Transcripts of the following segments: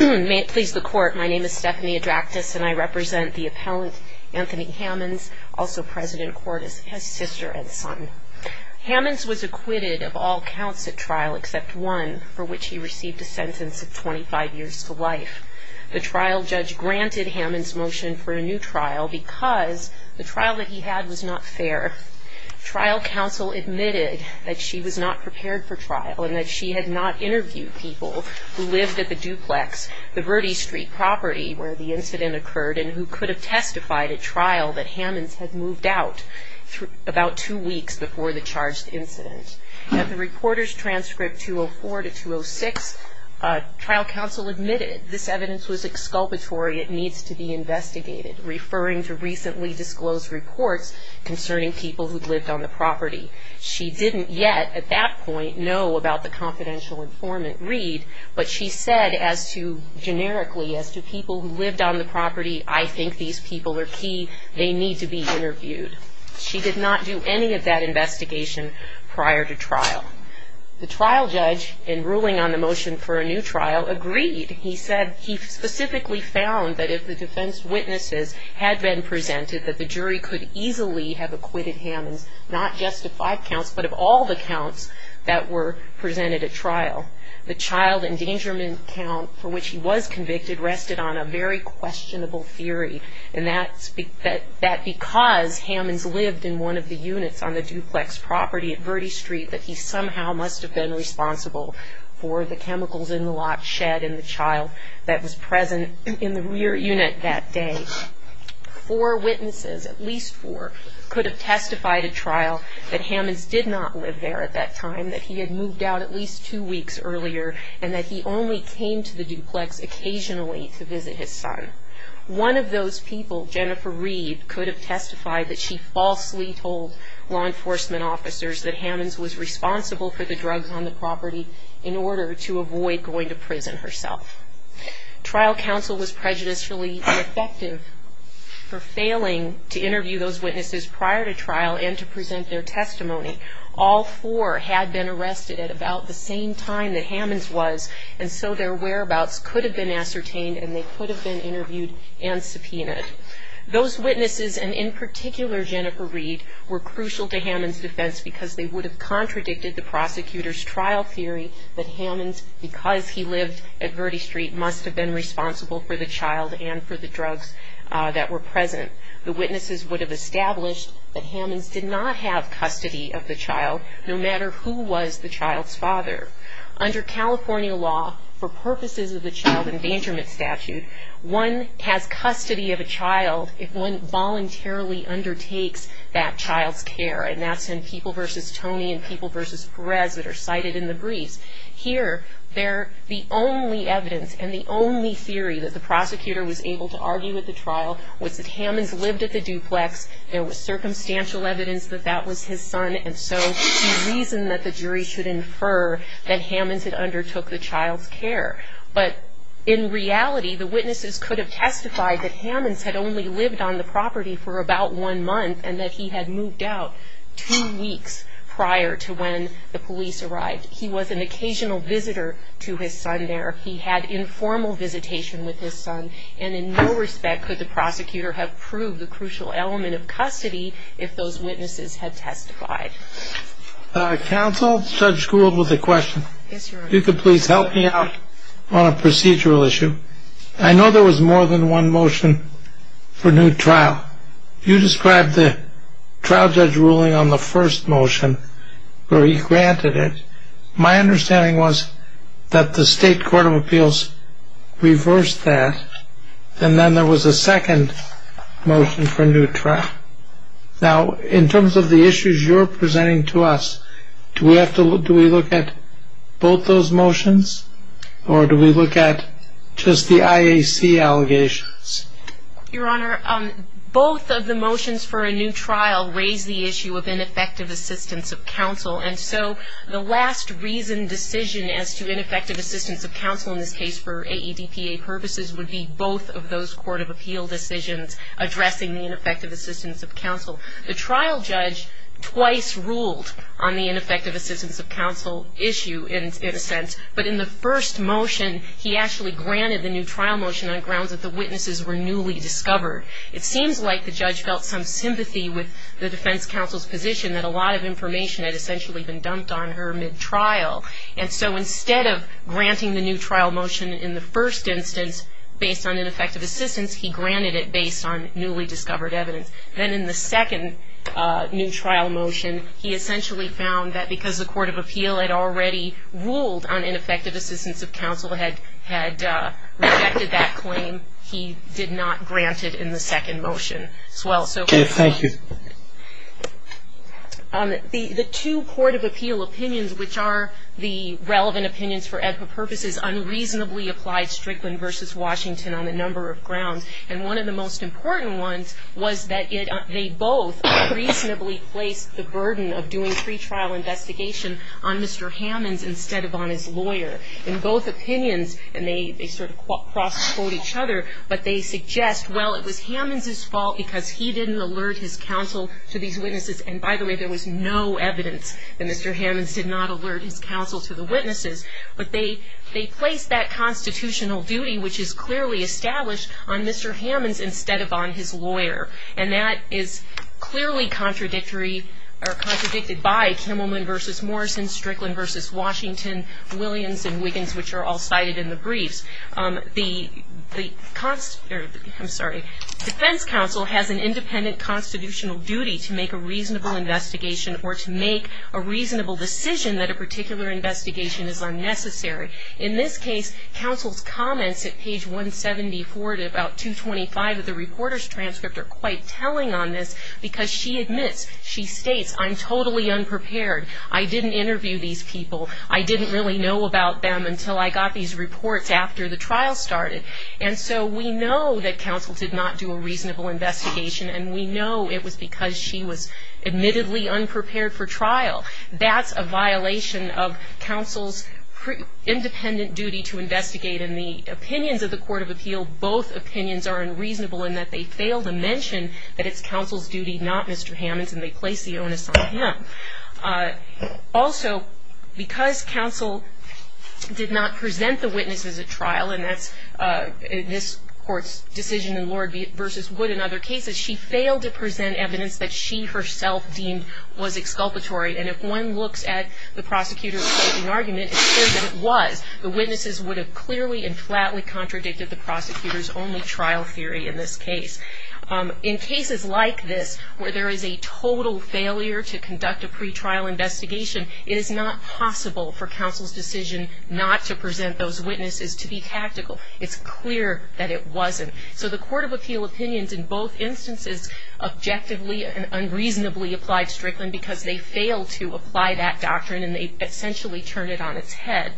May it please the court, my name is Stephanie Adractis and I represent the appellant Anthony Hammonds, also president court as his sister and son. Hammonds was acquitted of all counts at trial except one for which he received a sentence of 25 years to life. The trial judge granted Hammonds motion for a new trial because the trial that he had was not fair. Trial counsel admitted that she was not prepared for trial and that she had not interviewed people who lived at the duplex, the Verde Street property, where the incident occurred and who could have testified at trial that Hammonds had moved out about two weeks before the charged incident. At the reporter's transcript 204 to 206, trial counsel admitted this evidence was exculpatory, it needs to be investigated, referring to recently disclosed reports concerning people who'd lived on the property. She didn't yet at that point know about the confidential informant agreed, but she said as to, generically, as to people who lived on the property, I think these people are key, they need to be interviewed. She did not do any of that investigation prior to trial. The trial judge, in ruling on the motion for a new trial, agreed. He said he specifically found that if the defense witnesses had been presented that the jury could easily have acquitted Hammonds not just of five counts, but of all the counts that were presented at trial. The child endangerment count for which he was convicted rested on a very questionable theory, and that because Hammonds lived in one of the units on the duplex property at Verde Street that he somehow must have been responsible for the chemicals in the lot shed in the child that was present in the rear unit that day. Four witnesses, at least four, could have testified at trial that Hammonds did not live there at that time, that he had moved out at least two weeks earlier, and that he only came to the duplex occasionally to visit his son. One of those people, Jennifer Reed, could have testified that she falsely told law enforcement officers that Hammonds was responsible for the drugs on the property in order to avoid going to prison herself. Trial counsel was prejudicially defective for failing to interview those witnesses prior to trial and to present their testimony. All four had been arrested at about the same time that Hammonds was, and so their whereabouts could have been ascertained and they could have been interviewed and subpoenaed. Those witnesses, and in particular Jennifer Reed, were crucial to Hammonds' defense because they would have contradicted the prosecutor's trial theory that Hammonds, because he lived at Verde Street, must have been responsible for the child and for the drugs that were present. The witnesses would have established that Hammonds did not have custody of the child, no matter who was the child's father. Under California law, for purposes of the child endangerment statute, one has custody of a child if one voluntarily undertakes that child's care, and that's in People v. Tony and People v. Perez that are cited in the briefs. Here, they're the only evidence and the only theory that the prosecutor was able to argue at the trial was that Hammonds lived at the duplex, there was circumstantial evidence that that was his son, and so he reasoned that the jury should infer that Hammonds had undertook the child's care. But in reality, the witnesses could have testified that Hammonds had only lived on the property for about one month and that he had moved out two weeks prior to when the police arrived. He was an occasional visitor to his son there. He had informal visitation with his son, and in no respect could the prosecutor have proved the crucial element of custody if those witnesses had testified. Counsel, Judge Gould with a question. Yes, Your Honor. If you could please help me out on a procedural issue. I know there was more than one motion for new trial. You described the trial judge ruling on the first motion where he granted it. My understanding was that the state court of appeals reversed that, and then there was a second motion for new trial. Now, in terms of the issues you're presenting to us, do we look at both those motions, or do we look at just the IAC allegations? Your Honor, both of the motions for a new trial raise the issue of ineffective assistance of counsel, and so the last reasoned decision as to ineffective assistance of counsel in this case for AEDPA purposes would be both of those court of appeal decisions addressing the ineffective assistance of counsel. The trial judge twice ruled on the ineffective assistance of counsel issue, in a sense, but in the first motion, he actually granted the new trial motion on grounds that the witnesses were newly discovered. It seems like the judge felt some sympathy with the defense counsel's position that a lot of information had essentially been dumped on her mid-trial, and so instead of granting the new trial motion in the first instance based on ineffective assistance, he granted it based on newly discovered evidence. Then in the second new trial motion, he essentially found that because the court of appeal had already ruled on ineffective assistance of counsel, had rejected that claim, he did not grant it in the second motion as well. Okay. Thank you. The two court of appeal opinions, which are the relevant opinions for AEDPA purposes, unreasonably applied Strickland v. Washington on a number of grounds. And one of the most important ones was that it they both reasonably placed the burden of doing pretrial investigation on Mr. Hammons instead of on his lawyer. In both opinions, and they sort of cross-quote each other, but they suggest, well, it was Hammons' fault because he didn't alert his counsel to these witnesses. And by the way, there was no evidence that Mr. Hammons did not alert his counsel to the witnesses. But they placed that constitutional duty, which is clearly established on Mr. Hammons instead of on his lawyer. And that is clearly contradictory or contradicted by Kimmelman v. Morrison, Strickland v. Washington, Williams, and Wiggins, which are all cited in the briefs. The defense counsel has an independent constitutional duty to make a reasonable decision that a particular investigation is unnecessary. In this case, counsel's comments at page 174 to about 225 of the reporter's transcript are quite telling on this because she admits, she states, I'm totally unprepared. I didn't interview these people. I didn't really know about them until I got these reports after the trial started. And so we know that counsel did not do a reasonable investigation, and we know it was because she was admittedly unprepared for trial. That's a violation of counsel's independent duty to investigate. In the opinions of the Court of Appeal, both opinions are unreasonable in that they fail to mention that it's counsel's duty, not Mr. Hammons, and they place the onus on him. Also, because counsel did not present the witnesses at trial, and that's this court's decision in Lord v. Wood and other cases, she failed to present evidence that she herself deemed was exculpatory. And if one looks at the prosecutor's closing argument, it's clear that it was. The witnesses would have clearly and flatly contradicted the prosecutor's only trial theory in this case. In cases like this, where there is a total failure to conduct a pretrial investigation, it is not possible for counsel's decision not to present those witnesses to be tactical. It's clear that it wasn't. So the Court of Appeal opinions in both instances objectively and unreasonably applied Strickland because they failed to apply that doctrine, and they essentially turned it on its head.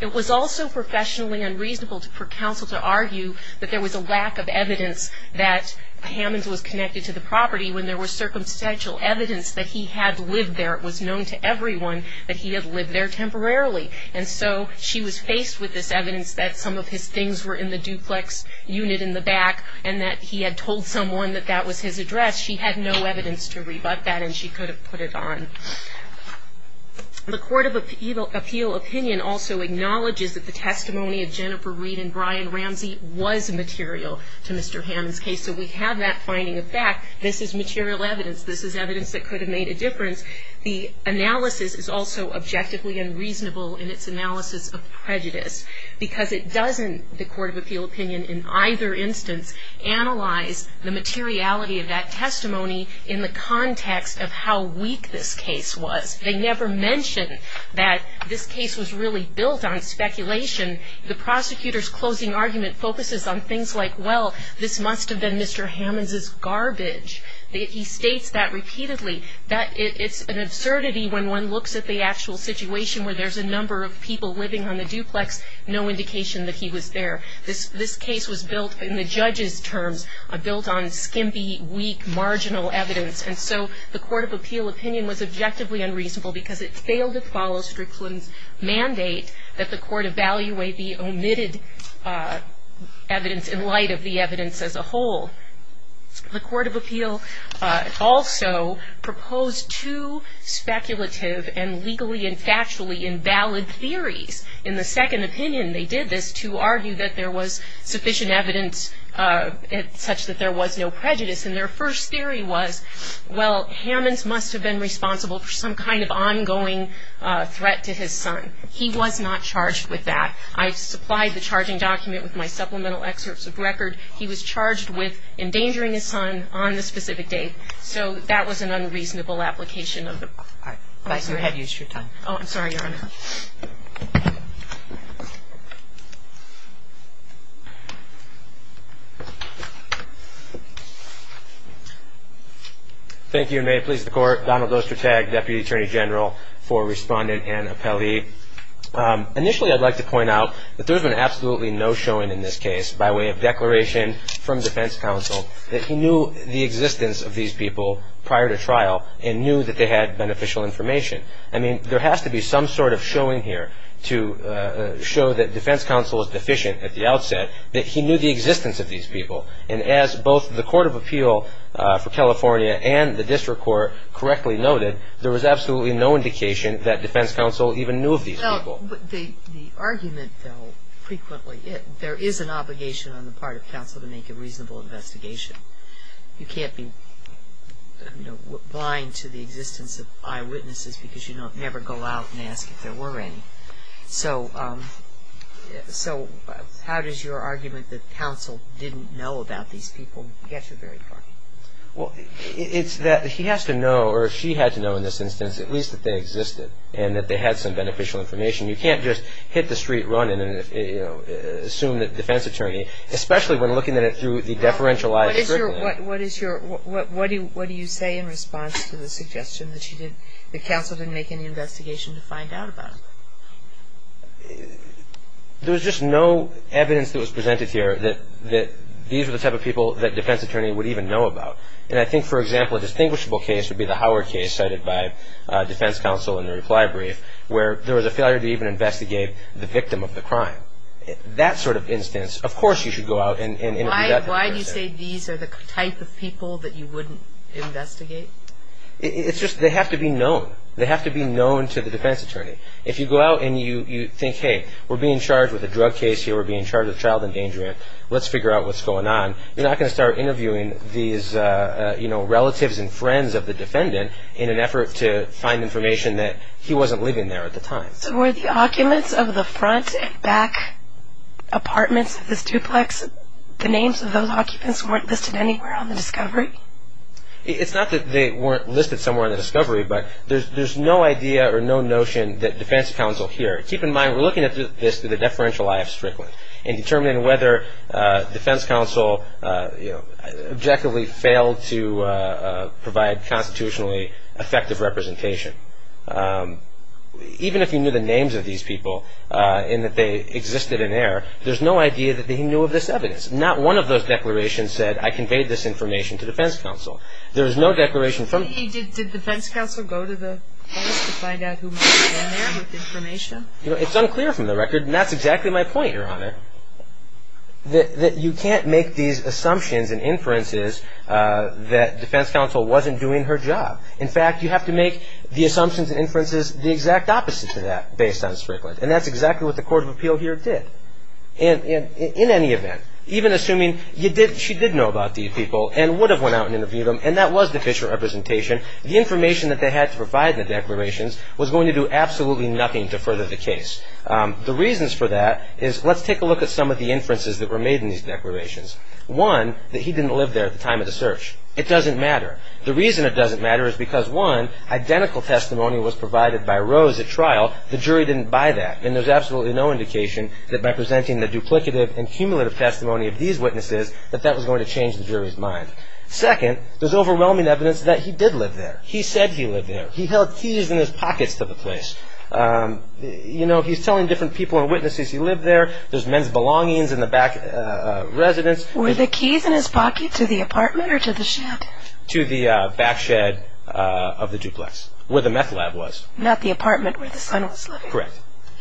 It was also professionally unreasonable for counsel to argue that there was a lack of evidence that Hammons was connected to the property when there was circumstantial evidence that he had lived there. It was known to everyone that he had lived there temporarily. And so she was faced with this evidence that some of his things were in the duplex unit in the back, and that he had told someone that that was his address. She had no evidence to rebut that, and she could have put it on. The Court of Appeal opinion also acknowledges that the testimony of Jennifer Reed and Brian Ramsey was material to Mr. Hammons' case. So we have that finding of fact. This is material evidence. This is evidence that could have made a difference. The analysis is also objectively unreasonable in its analysis of prejudice, because it doesn't, the Court of Appeal opinion, in either instance, analyze the materiality of that testimony in the context of how weak this case was. They never mention that this case was really built on speculation. The prosecutor's closing argument focuses on things like, well, this must have been Mr. Hammons' garbage. He states that repeatedly. That it's an absurdity when one looks at the actual situation where there's a number of people living on the duplex, no indication that he was there. This case was built in the judge's terms, built on skimpy, weak, marginal evidence, and so the Court of Appeal opinion was objectively unreasonable because it failed to follow Strickland's mandate that the Court evaluate the omitted evidence in light of the evidence as a whole. The Court of Appeal also proposed two speculative and legally and factually invalid theories. In the second opinion, they did this to argue that there was sufficient evidence such that there was no prejudice, and their first theory was, well, Hammons must have been responsible for some kind of ongoing threat to his son. He was not charged with that. I've supplied the charging document with my supplemental excerpts of record. He was charged with endangering his son on this specific date, so that was an unreasonable application of the... All right. Go ahead. Use your time. Oh, I'm sorry, Your Honor. Thank you, and may it please the Court. Donald Ostertag, Deputy Attorney General for Respondent and Appellee. Initially, I'd like to point out that there's been absolutely no showing in this case by way of declaration from these people prior to trial and knew that they had beneficial information. I mean, there has to be some sort of showing here to show that defense counsel was deficient at the outset, that he knew the existence of these people, and as both the Court of Appeal for California and the District Court correctly noted, there was absolutely no indication that defense counsel even knew of these people. Well, but the argument, though, frequently, there is an obligation on the defense counsel to do a reasonable investigation. You can't be, you know, blind to the existence of eyewitnesses because you never go out and ask if there were any. So how does your argument that counsel didn't know about these people get you very far? Well, it's that he has to know, or she had to know in this instance, at least that they existed and that they had some beneficial information. You can't just hit the street running and assume that defense attorney, especially when looking at it through the deferentialized scrutiny. What is your, what do you say in response to the suggestion that she didn't, that counsel didn't make any investigation to find out about them? There was just no evidence that was presented here that these were the type of people that defense attorney would even know about. And I think, for example, a distinguishable case would be the Howard case cited by defense counsel in the reply brief, where there was a failure to even investigate the victim of the crime. Why do you say these are the type of people that you wouldn't investigate? It's just, they have to be known. They have to be known to the defense attorney. If you go out and you think, hey, we're being charged with a drug case here, we're being charged with child endangerment, let's figure out what's going on. You're not going to start interviewing these, you know, relatives and friends of the defendant in an effort to find information that he wasn't living there at the time. So were the occupants of the front and back apartments of this duplex, the names of those occupants weren't listed anywhere on the discovery? It's not that they weren't listed somewhere on the discovery, but there's no idea or no notion that defense counsel here, keep in mind we're looking at this through the deferential eye of Strickland, and determining whether defense counsel, you know, objectively failed to provide constitutionally effective representation. Even if you knew the names of these people, and that they existed in there, there's no idea that he knew of this evidence. Not one of those declarations said, I conveyed this information to defense counsel. There's no declaration from... Did defense counsel go to the police to find out who was in there with information? It's unclear from the record, and that's exactly my point, Your Honor. That you can't make these assumptions and inferences that defense counsel wasn't doing her job. In fact, you have to make the assumptions and inferences the exact opposite to that, based on Strickland. And that's exactly what the Court of Appeal here did. In any event, even assuming she did know about these people, and would have went out and interviewed them, and that was the official representation, the information that they had to provide in the declarations was going to do absolutely nothing to further the case. The reasons for that is, let's take a look at some of the inferences that were made in these declarations. One, that he didn't live there at the time of the search. It doesn't matter because, one, identical testimony was provided by Rose at trial. The jury didn't buy that, and there's absolutely no indication that by presenting the duplicative and cumulative testimony of these witnesses, that that was going to change the jury's mind. Second, there's overwhelming evidence that he did live there. He said he lived there. He held keys in his pockets to the place. You know, he's telling different people and witnesses he lived there. There's men's belongings in the back residence. Were the keys in his pocket to the apartment or to the shed? To the back shed of the duplex, where the meth lab was. Not the apartment where the son was living? Correct.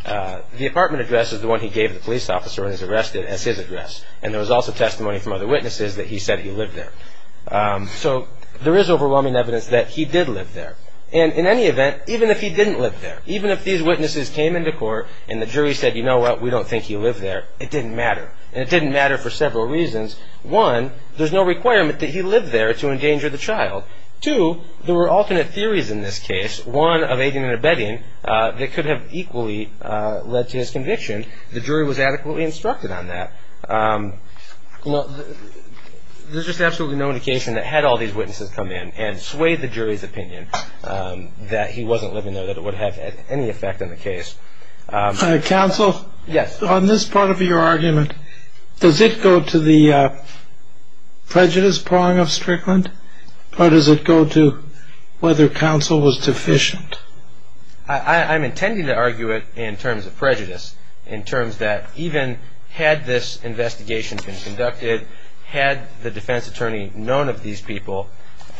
The apartment address is the one he gave the police officer when he was arrested as his address, and there was also testimony from other witnesses that he said he lived there. So there is overwhelming evidence that he did live there, and in any event, even if he didn't live there, even if these witnesses came into court and the jury said, you know what, we don't think he lived there, it didn't matter, and it didn't matter for several reasons. One, there's no requirement that he lived there to endanger the child. Two, there were alternate theories in this case. One, of aiding and abetting that could have equally led to his conviction. The jury was adequately instructed on that. You know, there's just absolutely no indication that had all these witnesses come in and swayed the jury's opinion that he wasn't living there, that it would have had any effect on the case. Counsel? Yes. On this part of your argument, does it go to the prejudice prong of Strickland, or does it go to whether counsel was deficient? I'm intending to argue it in terms of prejudice, in terms that even had this investigation been conducted, had the defense attorney known of these people,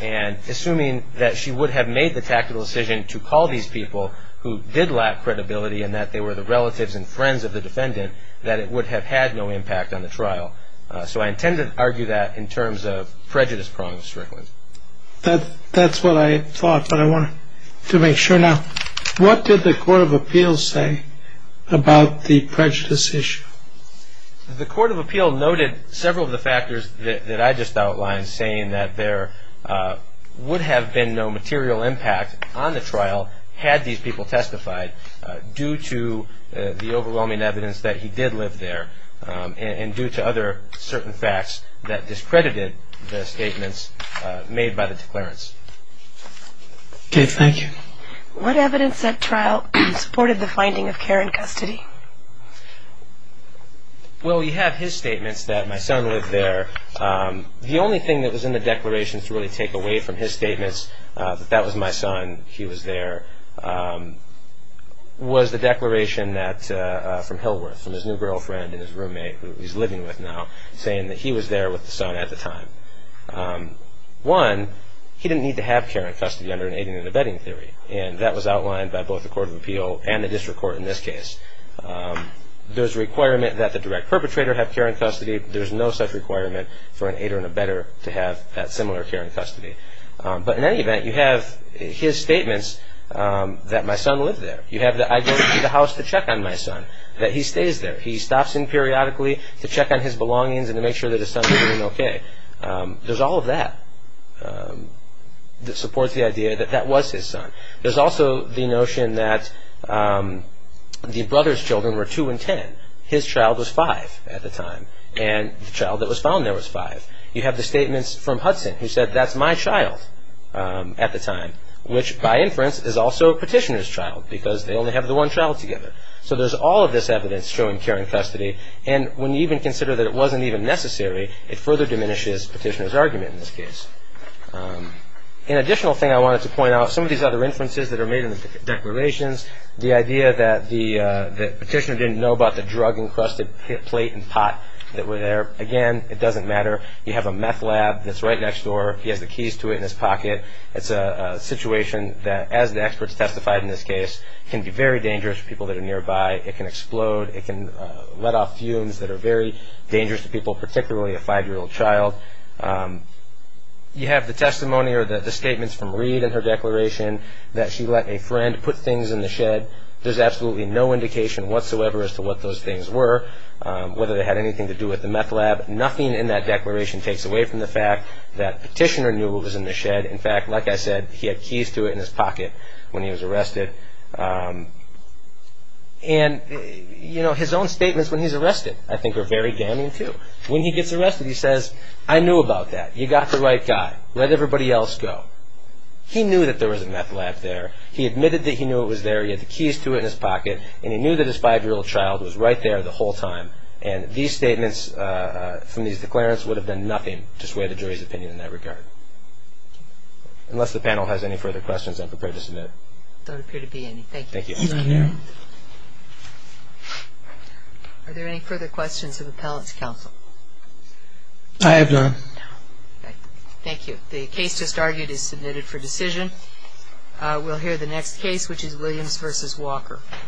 and assuming that she would have made the tactical decision to call these people who did lack credibility, and that they were the relatives and friends of the defendant, that it would have had no impact on the trial. So I intend to argue that in terms of prejudice prong of Strickland. That's what I thought, but I wanted to make sure now. What did the Court of Appeals say about the prejudice issue? The Court of Appeal noted several of the factors that I just outlined, saying that there would have been no material impact on the trial had these people testified due to the overwhelming evidence that he did live there, and due to other certain facts that discredited the statements made by the declarants. Dave, thank you. What evidence at trial supported the finding of Karen Custody? Well, you have his statements that my son lived there. The only thing that was in the declarations to really take away from his statements, that that was my son, he was there, was the declaration from Hillworth, from his new girlfriend and his roommate, who he's living with now, saying that he was there with the son at the time. One, he didn't need to have Karen Custody under an aiding and abetting theory, and that was outlined by both the Court of Appeal and the District Court in this case. There's a requirement that the direct perpetrator have Karen Custody. But in any event, you have his statements that my son lived there. You have the idea that I go to the house to check on my son, that he stays there. He stops in periodically to check on his belongings and to make sure that his son is doing okay. There's all of that that supports the idea that that was his son. There's also the notion that the brother's children were two and ten. His child was five at the time, and the child that was found there was five. You have the statements from Hudson, who said that's my child at the time, which by inference is also Petitioner's child, because they only have the one child together. So there's all of this evidence showing Karen Custody, and when you even consider that it wasn't even necessary, it further diminishes Petitioner's argument in this case. An additional thing I wanted to point out, some of these other inferences that are made in the declarations, the idea that Petitioner didn't know about the drug-encrusted plate and pot that were there. Again, it doesn't matter. You have a meth lab that's right next door. He has the keys to it in his pocket. It's a situation that, as the experts testified in this case, can be very dangerous for people that are nearby. It can explode. It can let off fumes that are very dangerous to people, particularly a five-year-old child. You have the testimony or the statements from Reid in her declaration that she let a friend put things in the shed. There's absolutely no indication whatsoever as to what those things were, whether they had anything to do with the meth lab. Nothing in that declaration takes away from the fact that Petitioner knew what was in the shed. In fact, like I said, he had keys to it in his pocket when he was arrested. His own statements when he's arrested, I think, are very damning, too. When he gets arrested, he says, I knew about that. You got the right guy. Let everybody else go. He knew that there was a meth lab there. He admitted that he knew it was there. He had the keys to it in his pocket, and he knew that his five-year-old child was right there the whole time. These statements from these declarants would have done nothing to sway the jury's opinion in that regard. Unless the panel has any further questions, I'm prepared to submit. There don't appear to be any. Thank you. Thank you. Are there any further questions of Appellate's Counsel? I have none. Thank you. The case just argued is submitted for decision. We'll hear the next case, which is Williams v. Walker.